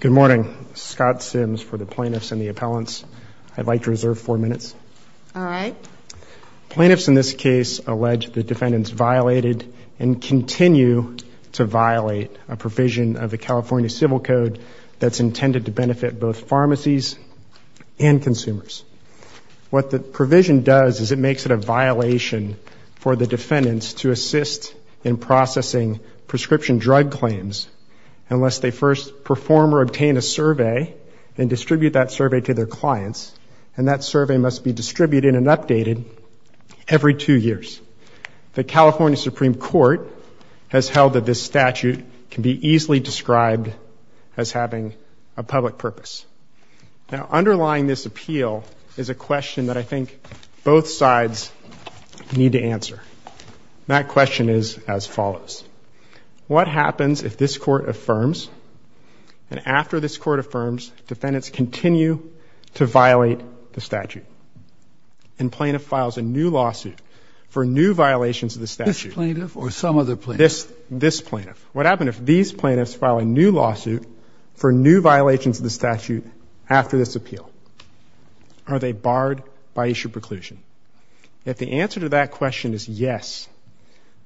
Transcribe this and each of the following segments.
Good morning. Scott Sims for the plaintiffs and the appellants. I'd like to reserve four minutes. All right. Plaintiffs in this case allege the defendant's violated and continue to violate a provision of the California Civil Code that's intended to benefit both pharmacies and consumers. What the provision does is it makes it a violation for the defendants to assist in processing prescription drug claims unless they first perform or obtain a survey and distribute that survey to their clients. And that survey must be distributed and updated every two years. The California Supreme Court has held that this statute can be easily described as having a public purpose. Now, underlying this appeal is a question that I think both sides need to answer. That question is as follows. What happens if this Court affirms, and after this Court affirms, defendants continue to violate the statute and plaintiff files a new lawsuit for new violations of the statute? This plaintiff or some other plaintiff? This plaintiff. What happens if these plaintiffs file a new lawsuit for new violations of the statute after this appeal? Are they barred by issue preclusion? If the answer to that question is yes,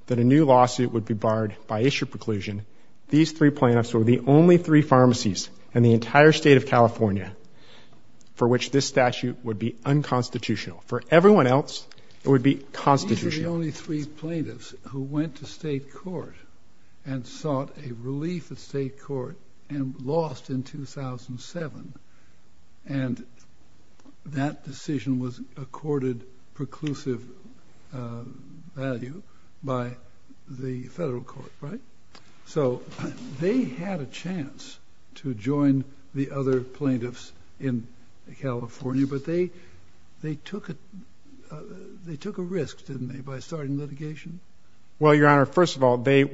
that a new lawsuit would be barred by issue preclusion, these three plaintiffs are the only three pharmacies in the entire state of California for which this statute would be unconstitutional. For everyone else, it would be constitutional. These are the only three plaintiffs who went to state court and sought a relief at state court and lost in 2007. And that decision was accorded preclusive value by the federal court, right? So they had a chance to join the other plaintiffs in California, but they took a risk, didn't they, by starting litigation? Well, Your Honor, first of all, they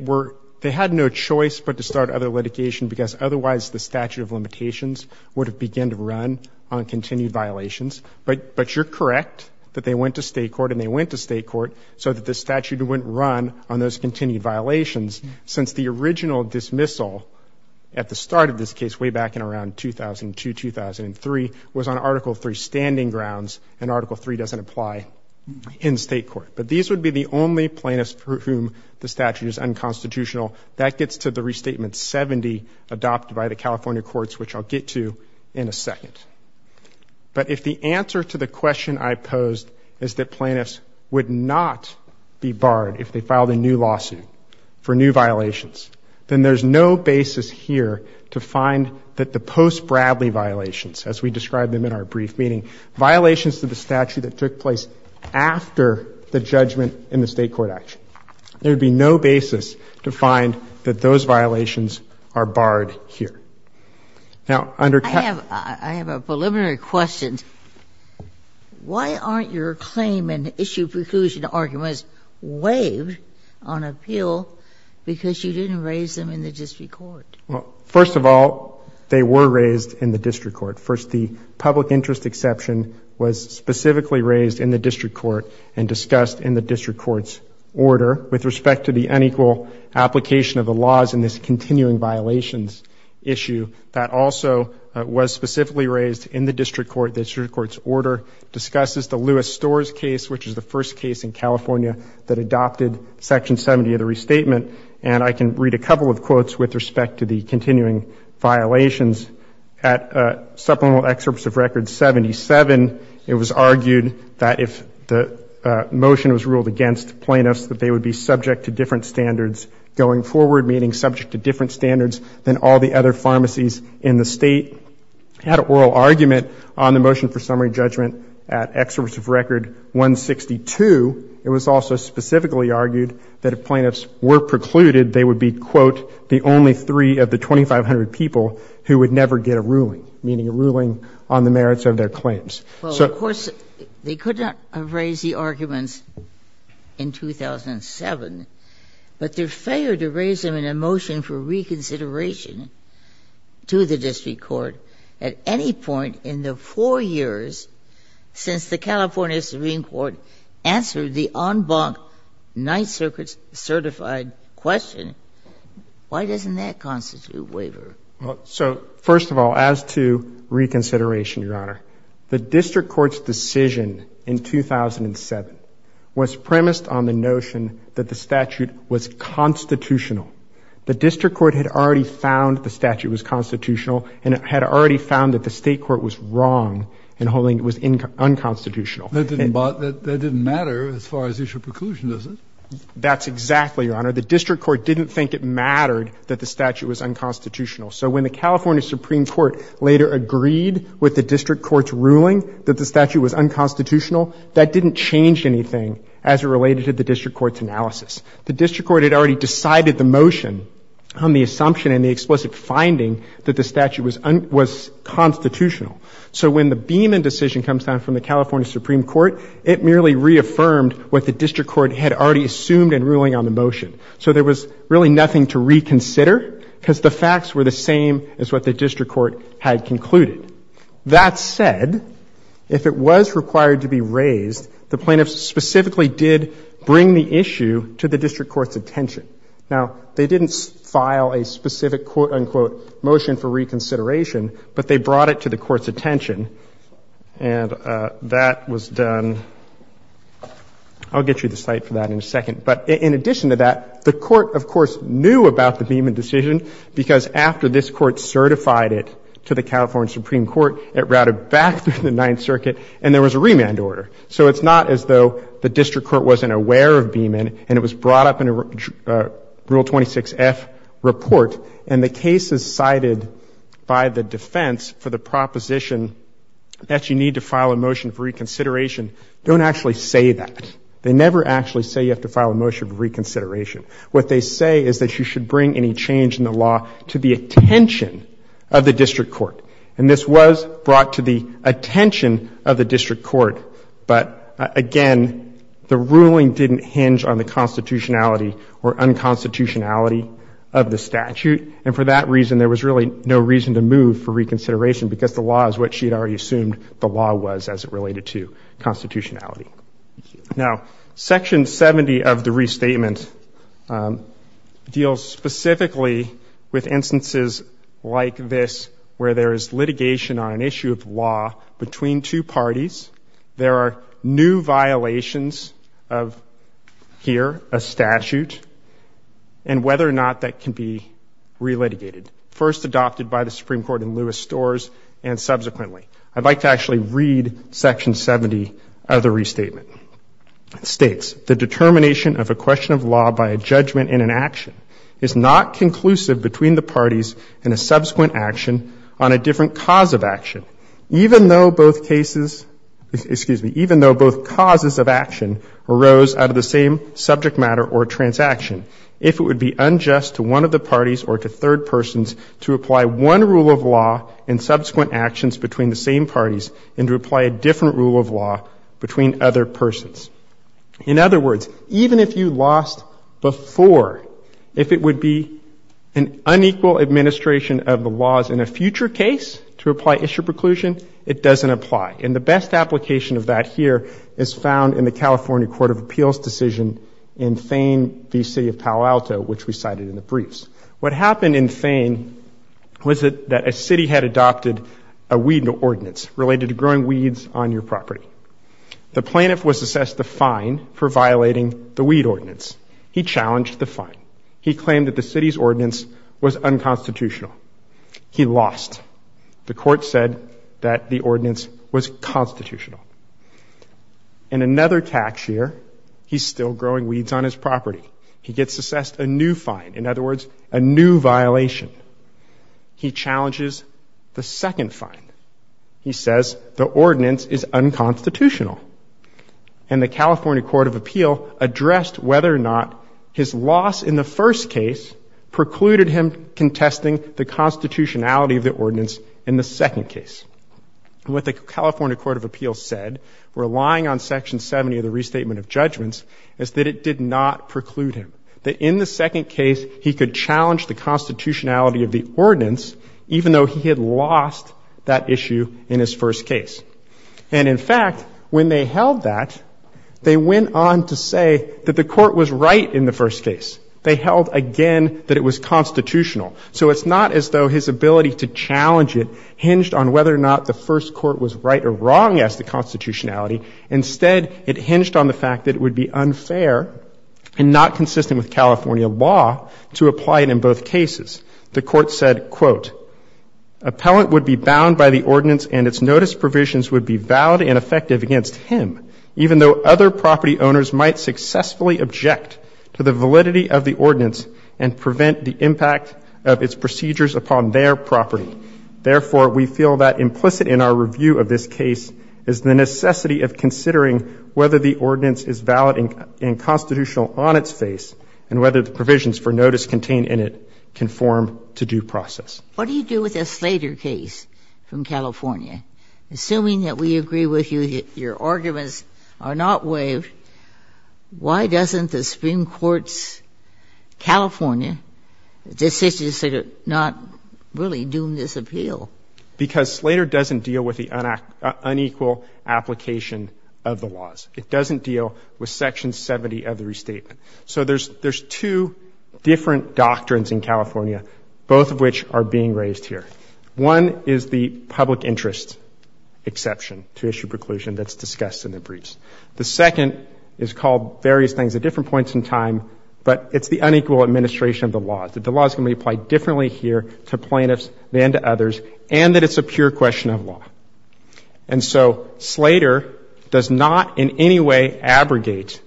had no choice but to start other litigation because otherwise the statute of limitations would have begun to run on continued violations. But you're correct that they went to state court, and they went to state court so that the statute wouldn't run on those continued violations since the original dismissal at the start of this case, way back in around 2002, 2003, was on Article III standing grounds, and Article III doesn't apply in state court. But these would be the only plaintiffs for whom the statute is unconstitutional. That gets to the Restatement 70 adopted by the California courts, which I'll get to in a second. But if the answer to the question I posed is that plaintiffs would not be barred if they filed a new lawsuit for new violations, then there's no basis here to find that the post-Bradley violations, as we described them in our brief meeting, violations to the statute that took place after the judgment in the state court action. There would be no basis to find that those violations are barred here. Now, under ca- I have a preliminary question. Why aren't your claim and issue preclusion arguments waived on appeal because you didn't raise them in the district court? Well, first of all, they were raised in the district court. First, the public interest exception was specifically raised in the district court and discussed in the district court's order with respect to the unequal application of the laws in this continuing violations issue. That also was specifically raised in the district court. The district court's order discusses the Lewis-Storrs case, which is the first case in California that adopted Section 70 of the Restatement. And I can read a couple of quotes with respect to the continuing violations. At supplemental excerpts of Record 77, it was argued that if the motion was ruled against plaintiffs, that they would be subject to different standards going forward, meaning subject to different standards than all the other pharmacies in the state. It had an oral argument on the motion for summary judgment at excerpts of Record 162. It was also specifically argued that if plaintiffs were precluded, they would be, quote, the only three of the 2,500 people who would never get a ruling, meaning a ruling on the merits of their claims. So of course, they could not have raised the arguments in 2007, but their failure to raise them in a motion for reconsideration to the district court at any point in the four years since the California Supreme Court answered the en banc Ninth Circuit's certified question, why doesn't that constitute waiver? Well, so first of all, as to reconsideration, Your Honor, the district court's decision in 2007 was premised on the notion that the statute was constitutional. The district court had already found the statute was constitutional, and it had already found that the state court was wrong in holding it was unconstitutional. That didn't matter as far as issue of preclusion, does it? That's exactly, Your Honor. The district court didn't think it mattered that the statute was unconstitutional. So when the California Supreme Court later agreed with the district court's ruling that the statute was unconstitutional, that didn't change anything as it related to the district court's analysis. The district court had already decided the motion on the assumption and the explicit finding that the statute was constitutional. So when the Beeman decision comes down from the California Supreme Court, it merely reaffirmed what the district court had already assumed in ruling on the motion. So there was really nothing to reconsider because the facts were the same as what the district court had concluded. That said, if it was required to be raised, the plaintiffs specifically did bring the issue to the district court's attention. Now, they didn't file a specific, quote, unquote, motion for reconsideration, but they brought it to the court's attention. And that was done. I'll get you the site for that in a second. But in addition to that, the court, of course, knew about the Beeman decision because after this court certified it to the California Supreme Court, it routed back through the Ninth Circuit and there was a remand order. So it's not as though the district court wasn't aware of Beeman and it was brought up in a Rule 26F report and the case is cited by the defense for the proposition that you need to file a motion for reconsideration. Don't actually say that. They never actually say you have to file a motion for reconsideration. What they say is that you should bring any change in the law to the attention of the district court. And this was brought to the attention of the district court. But, again, the ruling didn't hinge on the constitutionality or unconstitutionality of the statute. And for that reason, there was really no reason to move for reconsideration because the law is what she had already assumed the law was as it related to constitutionality. Now, Section 70 of the restatement deals specifically with instances like this where there is litigation on an issue of law between two parties. There are new violations of here, a statute, and whether or not that can be I'd like to actually read Section 70 of the restatement. It states, The determination of a question of law by a judgment in an action is not conclusive between the parties in a subsequent action on a different cause of action, even though both causes of action arose out of the same subject matter or transaction. If it would be unjust to one of the parties or to third persons to apply one rule of law in subsequent actions between the same parties and to apply a different rule of law between other persons. In other words, even if you lost before, if it would be an unequal administration of the laws in a future case to apply issue preclusion, it doesn't apply. And the best application of that here is found in the California Court of Appeals decision in Thain v. City of Palo Alto, which we cited in the briefs. What happened in Thain was that a city had adopted a weed ordinance related to growing weeds on your property. The plaintiff was assessed the fine for violating the weed ordinance. He challenged the fine. He claimed that the city's ordinance was unconstitutional. He lost. The court said that the ordinance was constitutional. In another tax year, he's still growing weeds on his property. He gets assessed a new fine. In other words, a new violation. He challenges the second fine. He says the ordinance is unconstitutional. And the California Court of Appeals addressed whether or not his loss in the first case precluded him contesting the constitutionality of the ordinance in the second case. And what the California Court of Appeals said, relying on Section 70 of the Restatement of Judgments, is that it did not preclude him. That in the second case, he could challenge the constitutionality of the ordinance, even though he had lost that issue in his first case. And, in fact, when they held that, they went on to say that the court was right in the first case. They held, again, that it was constitutional. So it's not as though his ability to challenge it hinged on whether or not the first court was right or wrong as to constitutionality. Instead, it hinged on the fact that it would be unfair and not consistent with California law to apply it in both cases. The court said, quote, ''Appellant would be bound by the ordinance and its notice provisions would be valid and effective against him, even though other property owners might successfully object to the validity of the ordinance and prevent the impact of its procedures upon their property. Therefore, we feel that implicit in our review of this case is the necessity of considering whether the ordinance is valid and constitutional on its face and whether the provisions for notice contained in it conform to due process.'' What do you do with the Slater case from California? Assuming that we agree with you that your arguments are not waived, why doesn't the Supreme Court's California decision not really do this appeal? Because Slater doesn't deal with the unequal application of the laws. It doesn't deal with Section 70 of the restatement. So there's two different doctrines in California, both of which are being raised here. One is the public interest exception to issue preclusion that's discussed in the briefs. The second is called various things at different points in time, but it's the unequal administration of the law. The law is going to be applied differently here to plaintiffs than to others, and that it's a pure question of law. And so Slater does not in any way abrogate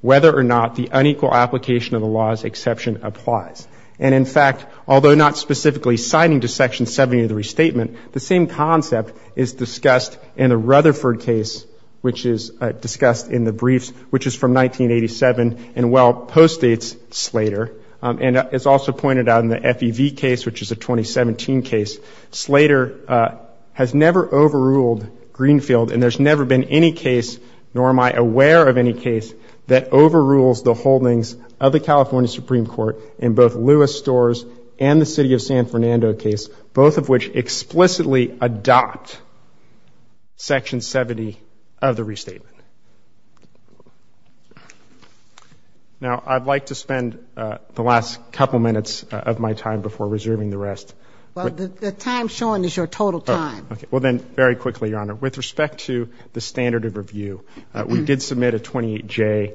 whether or not the unequal application of the law's exception applies. And in fact, although not specifically citing the Section 70 of the restatement, the same concept is discussed in the Rutherford case, which is discussed in the briefs, which is from 1987 and well postdates Slater. And it's also pointed out in the FEV case, which is a 2017 case, Slater has never overruled Greenfield, and there's never been any case, nor am I aware of any case, that overrules the holdings of the California Supreme Court in both Lewis Storrs and the City of San Fernando case, both of which explicitly adopt Section 70 of the restatement. Now, I'd like to spend the last couple minutes of my time before reserving the rest. Well, the time shown is your total time. Okay. Well, then, very quickly, Your Honor, with respect to the standard of review, we did submit a 28J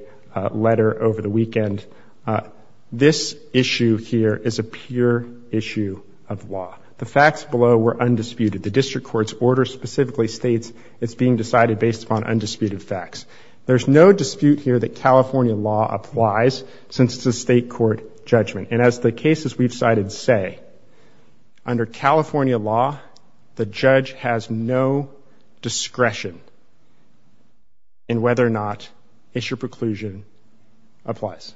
letter over the weekend. This issue here is a pure issue of law. The facts below were undisputed. The district court's order specifically states it's being decided based upon undisputed facts. There's no dispute here that California law applies since it's a state court judgment. And as the cases we've cited say, under California law, the judge has no discretion in whether or not issue preclusion applies.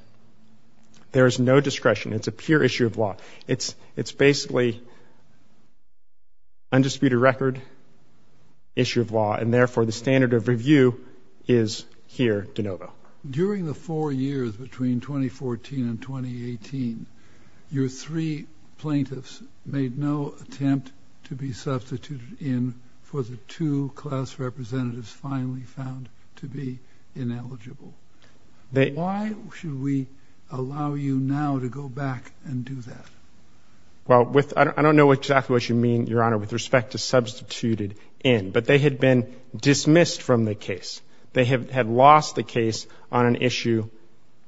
There is no discretion. It's a pure issue of law. It's basically undisputed record issue of law, and therefore, the standard of review is here de novo. During the four years between 2014 and 2018, your three plaintiffs made no attempt to be substituted in for the two class representatives finally found to be ineligible. Why should we allow you now to go back and do that? Well, I don't know exactly what you mean, Your Honor, with respect to substituted in, but they had been dismissed from the case. They had lost the case on an issue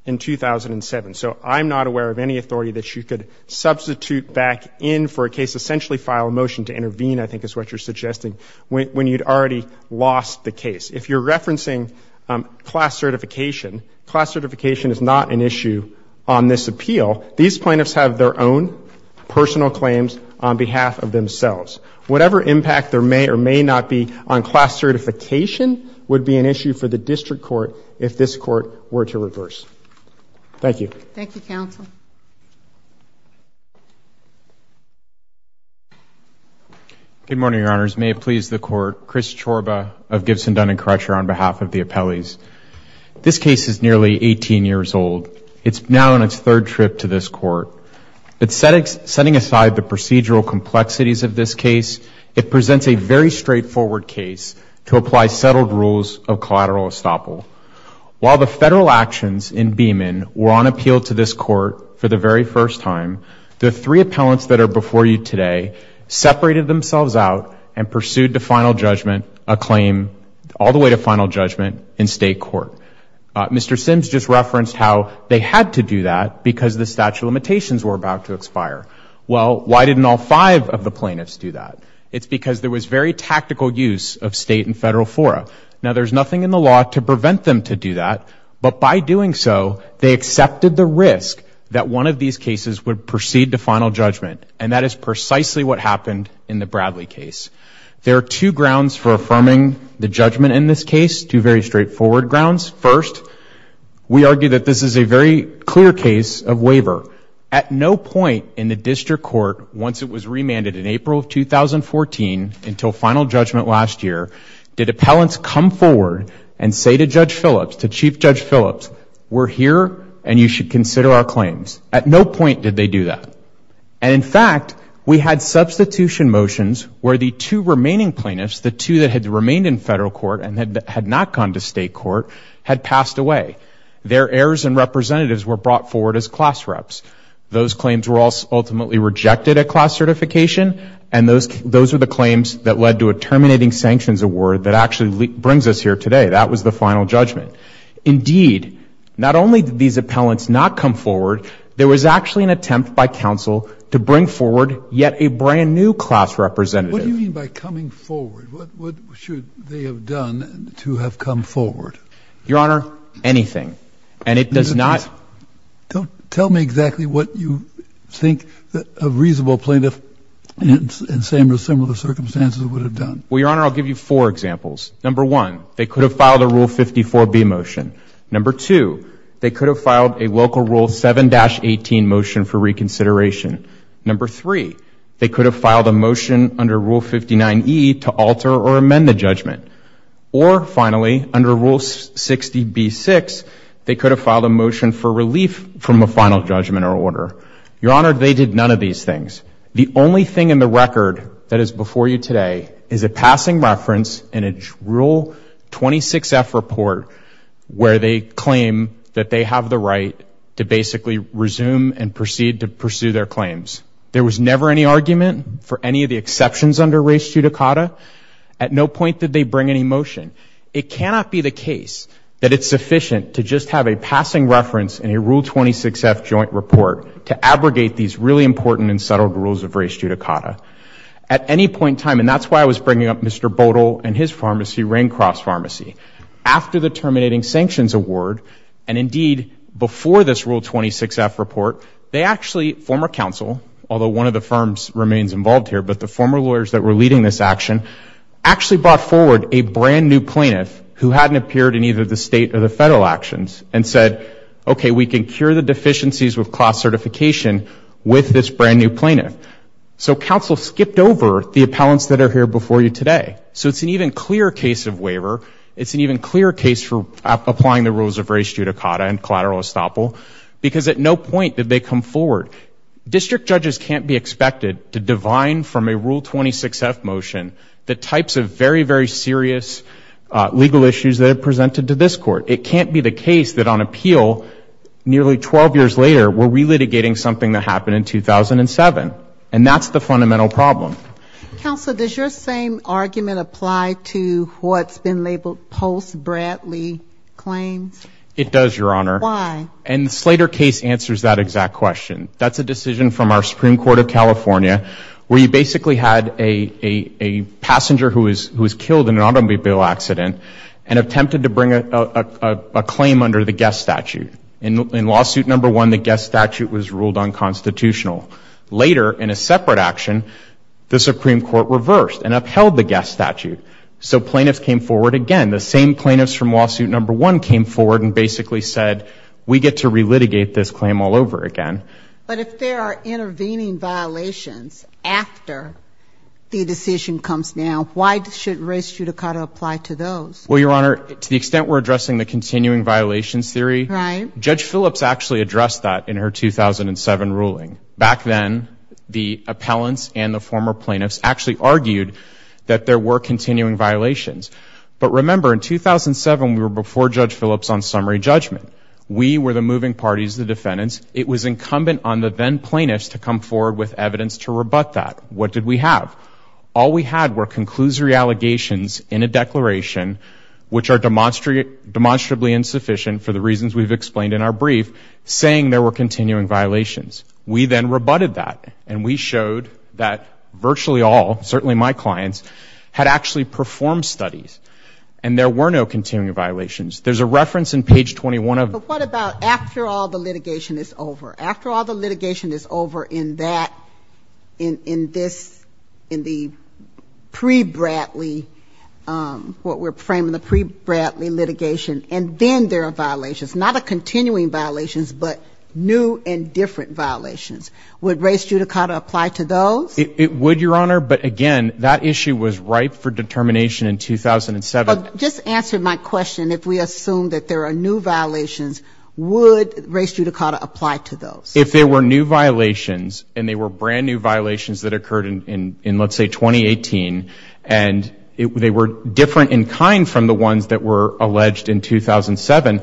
in 2007. So I'm not aware of any authority that you could substitute back in for a case, essentially file a motion to intervene, I think is what you're suggesting, when you'd already lost the case. If you're referencing class certification, class certification is not an issue on this appeal. These plaintiffs have their own personal claims on behalf of themselves. Whatever impact there may or may not be on class certification would be an issue for the district court if this court were to reverse. Thank you. Thank you, counsel. Good morning, Your Honors. May it please the Court, Chris Chorba of Gibson, Dun & Crutcher on behalf of the appellees. This case is nearly 18 years old. It's now on its third trip to this court. But setting aside the procedural complexities of this case, it presents a very straightforward case to apply settled rules of collateral estoppel. While the federal actions in Beamon were on appeal to this court for the very first time, the three appellants that are before you today separated themselves out and pursued the final judgment, a claim, all the way to final judgment in state court. Mr. Sims just referenced how they had to do that because the statute of limitations were about to expire. Well, why didn't all five of the plaintiffs do that? It's because there was very tactical use of state and federal fora. Now, there's nothing in the law to prevent them to do that. But by doing so, they accepted the risk that one of these cases would proceed to final judgment, and that is precisely what happened in the Bradley case. There are two grounds for affirming the judgment in this case, two very straightforward grounds. First, we argue that this is a very clear case of waiver. At no point in the district court, once it was remanded in April of 2014 until final judgment last year, did appellants come forward and say to Judge Phillips, to Chief Judge Phillips, we're here and you should consider our claims. At no point did they do that. And, in fact, we had substitution motions where the two remaining plaintiffs, the two that had remained in federal court and had not gone to state court, had passed away. Their heirs and representatives were brought forward as class reps. Those claims were ultimately rejected at class certification, and those were the claims that led to a terminating sanctions award that actually brings us here today. That was the final judgment. Indeed, not only did these appellants not come forward, there was actually an attempt by counsel to bring forward yet a brand-new class representative. What do you mean by coming forward? What should they have done to have come forward? Your Honor, anything. And it does not – Tell me exactly what you think a reasonable plaintiff in similar circumstances would have done. Well, Your Honor, I'll give you four examples. Number one, they could have filed a Rule 54b motion. Number two, they could have filed a local Rule 7-18 motion for reconsideration. Number three, they could have filed a motion under Rule 59e to alter or amend the judgment. Or, finally, under Rule 60b-6, they could have filed a motion for relief from a final judgment or order. Your Honor, they did none of these things. The only thing in the record that is before you today is a passing reference in a Rule 26f report where they claim that they have the right to basically resume and proceed to pursue their claims. There was never any argument for any of the exceptions under race judicata. At no point did they bring any motion. It cannot be the case that it's sufficient to just have a passing reference in a Rule 26f joint report to abrogate these really important and subtle rules of race judicata. At any point in time, and that's why I was bringing up Mr. Bodel and his pharmacy, Raincroft's Pharmacy, after the terminating sanctions award and, indeed, before this Rule 26f report, they actually, former counsel, although one of the firms remains involved here, but the former lawyers that were leading this action, actually brought forward a brand-new plaintiff who hadn't appeared in either the state or the federal actions and said, okay, we can cure the deficiencies with class certification with this brand-new plaintiff. So counsel skipped over the appellants that are here before you today. So it's an even clearer case of waiver. It's an even clearer case for applying the rules of race judicata and collateral estoppel because at no point did they come forward. District judges can't be expected to divine from a Rule 26f motion the types of very, very serious legal issues that are presented to this Court. It can't be the case that on appeal, nearly 12 years later, we're relitigating something that happened in 2007. And that's the fundamental problem. Counsel, does your same argument apply to what's been labeled post-Bradley claims? It does, Your Honor. Why? And the Slater case answers that exact question. That's a decision from our Supreme Court of California where you basically had a passenger who was killed in an automobile accident and attempted to bring a claim under the guest statute. In Lawsuit No. 1, the guest statute was ruled unconstitutional. Later, in a separate action, the Supreme Court reversed and upheld the guest statute. So plaintiffs came forward again. The same plaintiffs from Lawsuit No. 1 came forward and basically said, we get to relitigate this claim all over again. But if there are intervening violations after the decision comes down, why should race judicata apply to those? Well, Your Honor, to the extent we're addressing the continuing violations theory, Judge Phillips actually addressed that in her 2007 ruling. Back then, the appellants and the former plaintiffs actually argued that there were continuing violations. But remember, in 2007, we were before Judge Phillips on summary judgment. We were the moving parties, the defendants. It was incumbent on the then plaintiffs to come forward with evidence to rebut that. What did we have? All we had were conclusory allegations in a declaration, which are demonstrably insufficient for the reasons we've explained in our brief, saying there were continuing violations. We then rebutted that, and we showed that virtually all, certainly my clients, had actually performed studies, and there were no continuing violations. There's a reference in page 21 of the statute. But what about after all the litigation is over? In that, in this, in the pre-Bradley, what we're framing the pre-Bradley litigation, and then there are violations, not a continuing violations, but new and different violations. Would race judicata apply to those? It would, Your Honor, but again, that issue was ripe for determination in 2007. Just answer my question. If we assume that there are new violations, would race judicata apply to those? If there were new violations, and they were brand-new violations that occurred in, let's say, 2018, and they were different in kind from the ones that were alleged in 2007,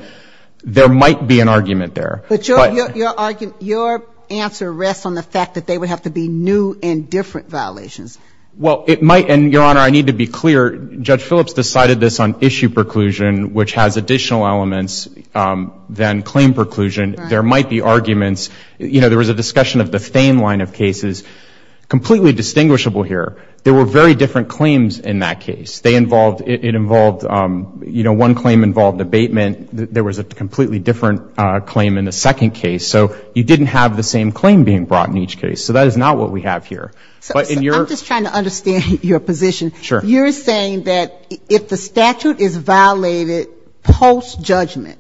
there might be an argument there. But your answer rests on the fact that they would have to be new and different violations. Well, it might. And, Your Honor, I need to be clear. Judge Phillips decided this on issue preclusion, which has additional elements than claim preclusion. There might be arguments. You know, there was a discussion of the Thame line of cases, completely distinguishable here. There were very different claims in that case. They involved, it involved, you know, one claim involved abatement. There was a completely different claim in the second case. So you didn't have the same claim being brought in each case. So that is not what we have here. But in your ‑‑ I'm just trying to understand your position. Sure. You're saying that if the statute is violated post-judgment,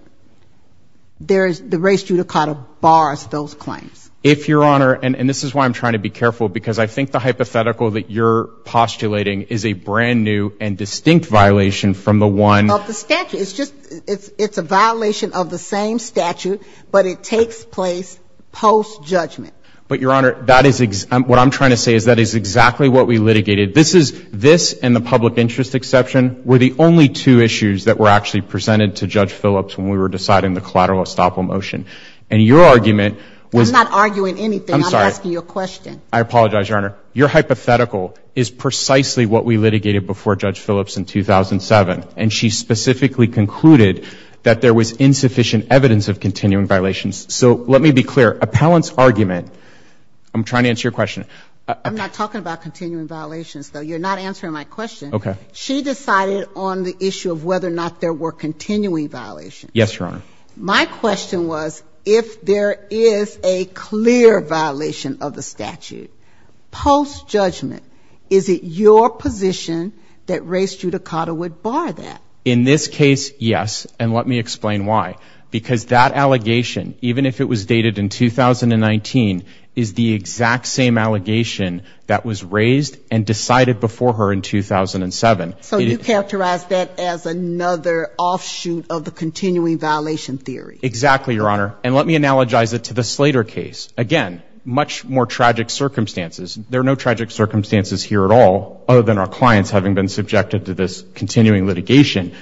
there is, the race judicata bars those claims. If, Your Honor, and this is why I'm trying to be careful, because I think the hypothetical that you're postulating is a brand-new and distinct violation from the one ‑‑ Of the statute. It's just, it's a violation of the same statute, but it takes place post-judgment. But, Your Honor, that is, what I'm trying to say is that is exactly what we litigated. This is, this and the public interest exception were the only two issues that were actually presented to Judge Phillips when we were deciding the collateral estoppel motion. And your argument was ‑‑ I'm not arguing anything. I'm sorry. I'm asking you a question. I apologize, Your Honor. Your hypothetical is precisely what we litigated before Judge Phillips in 2007. And she specifically concluded that there was insufficient evidence of continuing violations. So let me be clear. Appellant's argument, I'm trying to answer your question. I'm not talking about continuing violations, though. You're not answering my question. Okay. She decided on the issue of whether or not there were continuing violations. Yes, Your Honor. My question was, if there is a clear violation of the statute post-judgment, is it your position that Ray Strudicato would bar that? In this case, yes. And let me explain why. Because that allegation, even if it was dated in 2019, is the exact same allegation that was raised and decided before her in 2007. So you characterize that as another offshoot of the continuing violation theory. Exactly, Your Honor. And let me analogize it to the Slater case. Again, much more tragic circumstances. There are no tragic circumstances here at all, other than our clients having been subjected to this continuing litigation.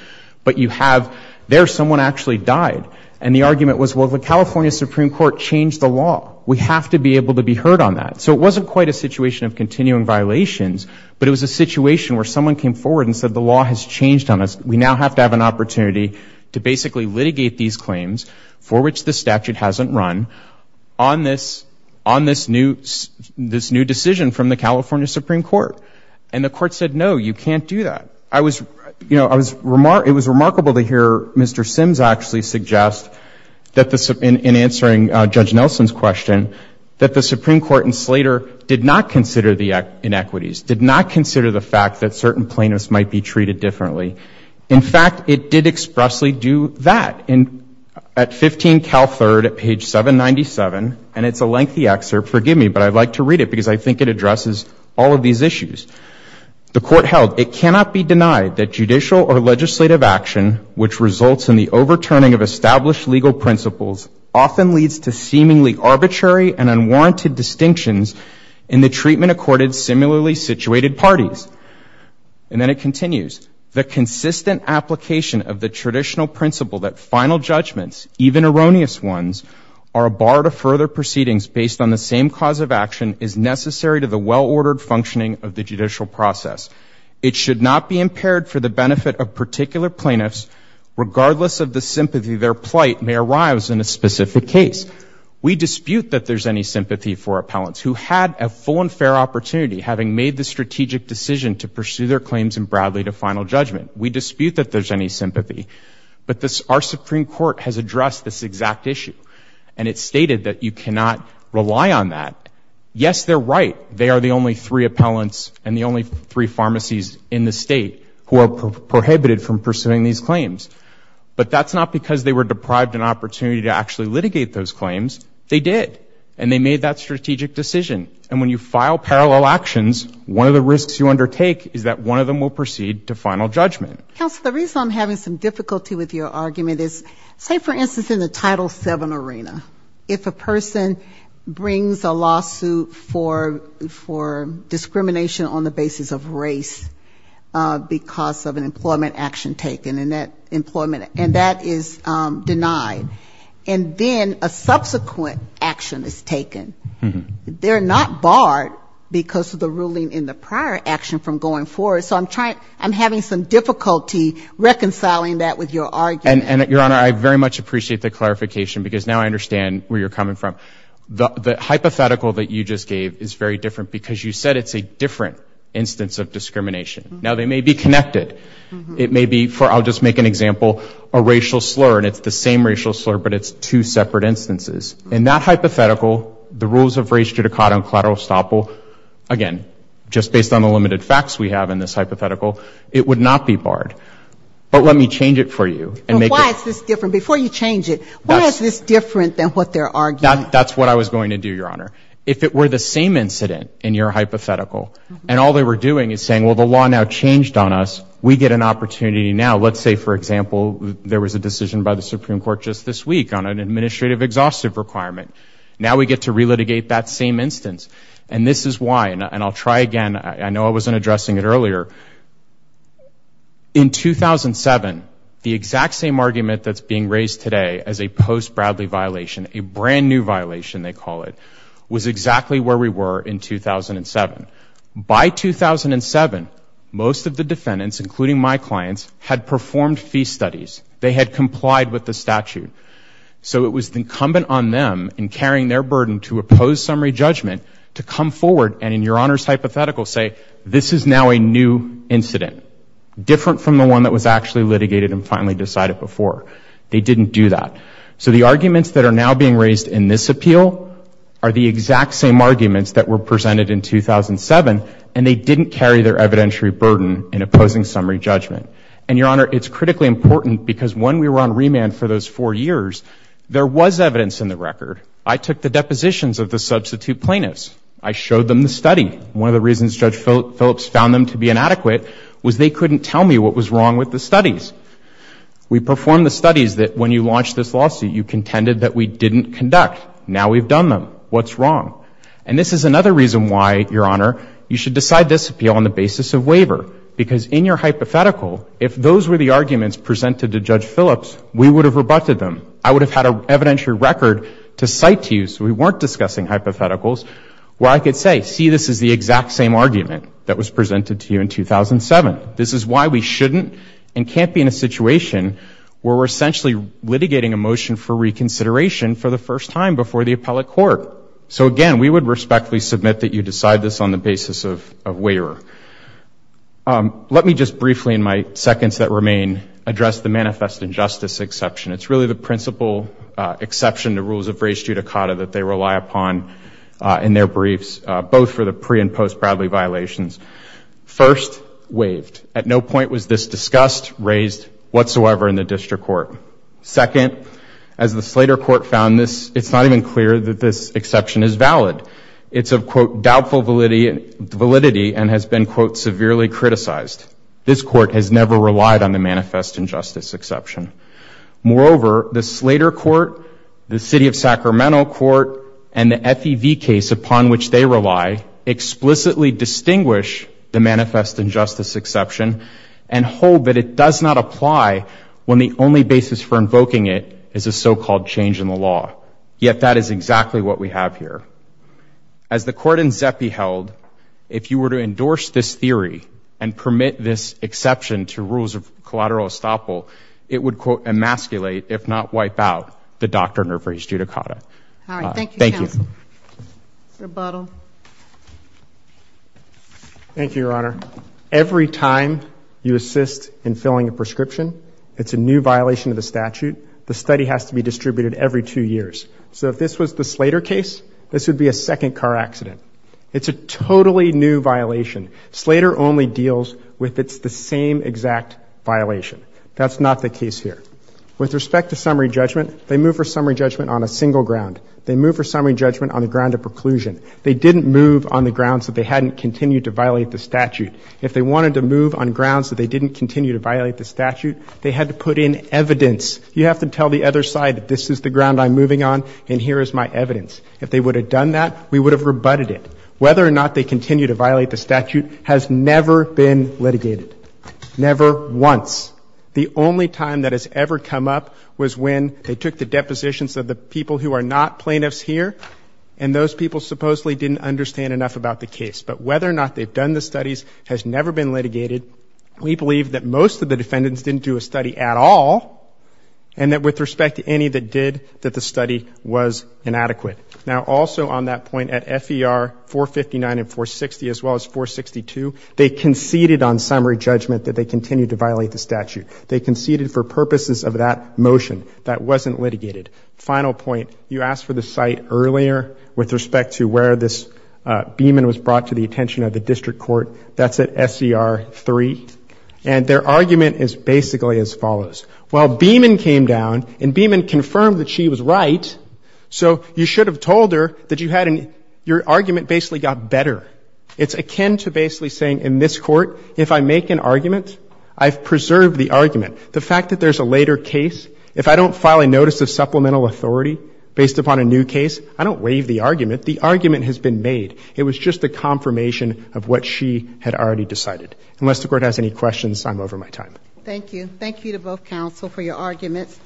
But you have there someone actually died. And the argument was, well, the California Supreme Court changed the law. We have to be able to be heard on that. So it wasn't quite a situation of continuing violations, but it was a situation where someone came forward and said, the law has changed on us. We now have to have an opportunity to basically litigate these claims, for which the statute hasn't run, on this new decision from the California Supreme Court. And the court said, no, you can't do that. It was remarkable to hear Mr. Sims actually suggest, in answering Judge Nelson's question, that the Supreme Court in Slater did not consider the inequities, did not consider the fact that certain plaintiffs might be treated differently. In fact, it did expressly do that. At 15 Cal 3rd, at page 797, and it's a lengthy excerpt, forgive me, but I'd like to read it because I think it addresses all of these issues. The court held, it cannot be denied that judicial or legislative action, which results in the overturning of established legal principles, often leads to seemingly arbitrary and unwarranted distinctions in the treatment accorded similarly situated parties. And then it continues, the consistent application of the traditional principle that final judgments, even erroneous ones, are a bar to further proceedings based on the same cause of action, is necessary to the well-ordered functioning of the judicial process. It should not be impaired for the benefit of particular plaintiffs, regardless of the sympathy their plight may arise in a specific case. We dispute that there's any sympathy for appellants who had a full and fair opportunity, having made the strategic decision to pursue their claims in Bradley to final judgment. We dispute that there's any sympathy. But our Supreme Court has addressed this exact issue, and it stated that you cannot rely on that. Yes, they're right. They are the only three appellants and the only three pharmacies in the state who are prohibited from pursuing these claims. But that's not because they were deprived an opportunity to actually litigate those claims. They did. And they made that strategic decision. And when you file parallel actions, one of the risks you undertake is that one of them will proceed to final judgment. Counsel, the reason I'm having some difficulty with your argument is, say, for instance, in the Title VII arena, if a person brings a lawsuit for discrimination on the basis of race, because of an employment action taken, and that is denied, and then a subsequent action is taken, they're not barred because of the ruling in the prior action from going forward. So I'm having some difficulty reconciling that with your argument. And, Your Honor, I very much appreciate the clarification because now I understand where you're coming from. The hypothetical that you just gave is very different because you said it's a different instance of discrimination. Now, they may be connected. It may be for, I'll just make an example, a racial slur, and it's the same racial slur but it's two separate instances. In that hypothetical, the rules of race, judicata, and collateral estoppel, again, just based on the limited facts we have in this hypothetical, it would not be barred. But let me change it for you. And why is this different? Before you change it, why is this different than what they're arguing? That's what I was going to do, Your Honor. If it were the same incident in your hypothetical and all they were doing is saying, well, the law now changed on us, we get an opportunity now. Let's say, for example, there was a decision by the Supreme Court just this week on an administrative exhaustive requirement. Now we get to relitigate that same instance. And this is why, and I'll try again. I know I wasn't addressing it earlier. In 2007, the exact same argument that's being raised today as a post-Bradley violation, a brand-new violation, they call it, was exactly where we were in 2007. By 2007, most of the defendants, including my clients, had performed fee studies. They had complied with the statute. So it was incumbent on them, in carrying their burden to oppose summary judgment, to come forward and in Your Honor's hypothetical say, this is now a new incident, different from the one that was actually litigated and finally decided before. They didn't do that. So the arguments that are now being raised in this appeal are the exact same arguments that were presented in 2007, and they didn't carry their evidentiary burden in opposing summary judgment. And Your Honor, it's critically important, because when we were on remand for those four years, there was evidence in the record. I took the depositions of the substitute plaintiffs. I showed them the study. One of the reasons Judge Phillips found them to be inadequate was they couldn't tell me what was wrong with the studies. We performed the studies that when you launched this lawsuit, you contended that we didn't conduct. Now we've done them. What's wrong? And this is another reason why, Your Honor, you should decide this appeal on the basis of waiver, because in your hypothetical, if those were the arguments presented to Judge Phillips, we would have rebutted them. I would have had an evidentiary record to cite to you so we weren't discussing hypotheticals, where I could say, see, this is the exact same argument that was presented to you in 2007. This is why we shouldn't and can't be in a situation where we're essentially litigating a motion for reconsideration for the first time before the appellate court. So, again, we would respectfully submit that you decide this on the basis of waiver. Let me just briefly, in my seconds that remain, address the manifest injustice exception. It's really the principal exception to rules of res judicata that they rely upon in their briefs, both for the pre- and post-Bradley violations. First, waived. At no point was this discussed, raised whatsoever in the district court. Second, as the Slater court found this, it's not even clear that this exception is valid. It's of, quote, doubtful validity and has been, quote, severely criticized. This court has never relied on the manifest injustice exception. Moreover, the Slater court, the city of Sacramento court, and the FEV case upon which they rely explicitly distinguish the manifest injustice exception and hold that it does not apply when the only basis for invoking it is a so-called change in the law. Yet that is exactly what we have here. As the court in Zepi held, if you were to endorse this theory and permit this exception to rules of collateral estoppel, it would, quote, emasculate, if not wipe out, the doctrine of res judicata. Thank you. Thank you, Your Honor. Every time you assist in filling a prescription, it's a new violation of the statute. The study has to be distributed every two years. So if this was the Slater case, this would be a second car accident. It's a totally new violation. Slater only deals with it's the same exact violation. That's not the case here. With respect to summary judgment, they move for summary judgment on a single ground. They move for summary judgment on the ground of preclusion. They didn't move on the grounds that they hadn't continued to violate the statute. If they wanted to move on grounds that they didn't continue to violate the statute, they had to put in evidence. You have to tell the other side that this is the ground I'm moving on and here is my evidence. If they would have done that, we would have rebutted it. Whether or not they continue to violate the statute has never been litigated. Never once. The only time that has ever come up was when they took the depositions of the people who are not plaintiffs here, and those people supposedly didn't understand enough about the case. But whether or not they've done the studies has never been litigated. We believe that most of the defendants didn't do a study at all, and that with respect to any that did, that the study was inadequate. Now, also on that point, at FER 459 and 460 as well as 462, they conceded on summary judgment that they continued to violate the statute. They conceded for purposes of that motion that wasn't litigated. Final point, you asked for the site earlier with respect to where this Beeman was brought to the attention of the district court. That's at SER 3. And their argument is basically as follows. While Beeman came down and Beeman confirmed that she was right, so you should have told her that you had an — your argument basically got better. It's akin to basically saying in this Court, if I make an argument, I've preserved the argument. The fact that there's a later case, if I don't file a notice of supplemental authority based upon a new case, I don't waive the argument. The argument has been made. It was just a confirmation of what she had already decided. Unless the Court has any questions, I'm over my time. Thank you. Thank you to both counsel for your arguments.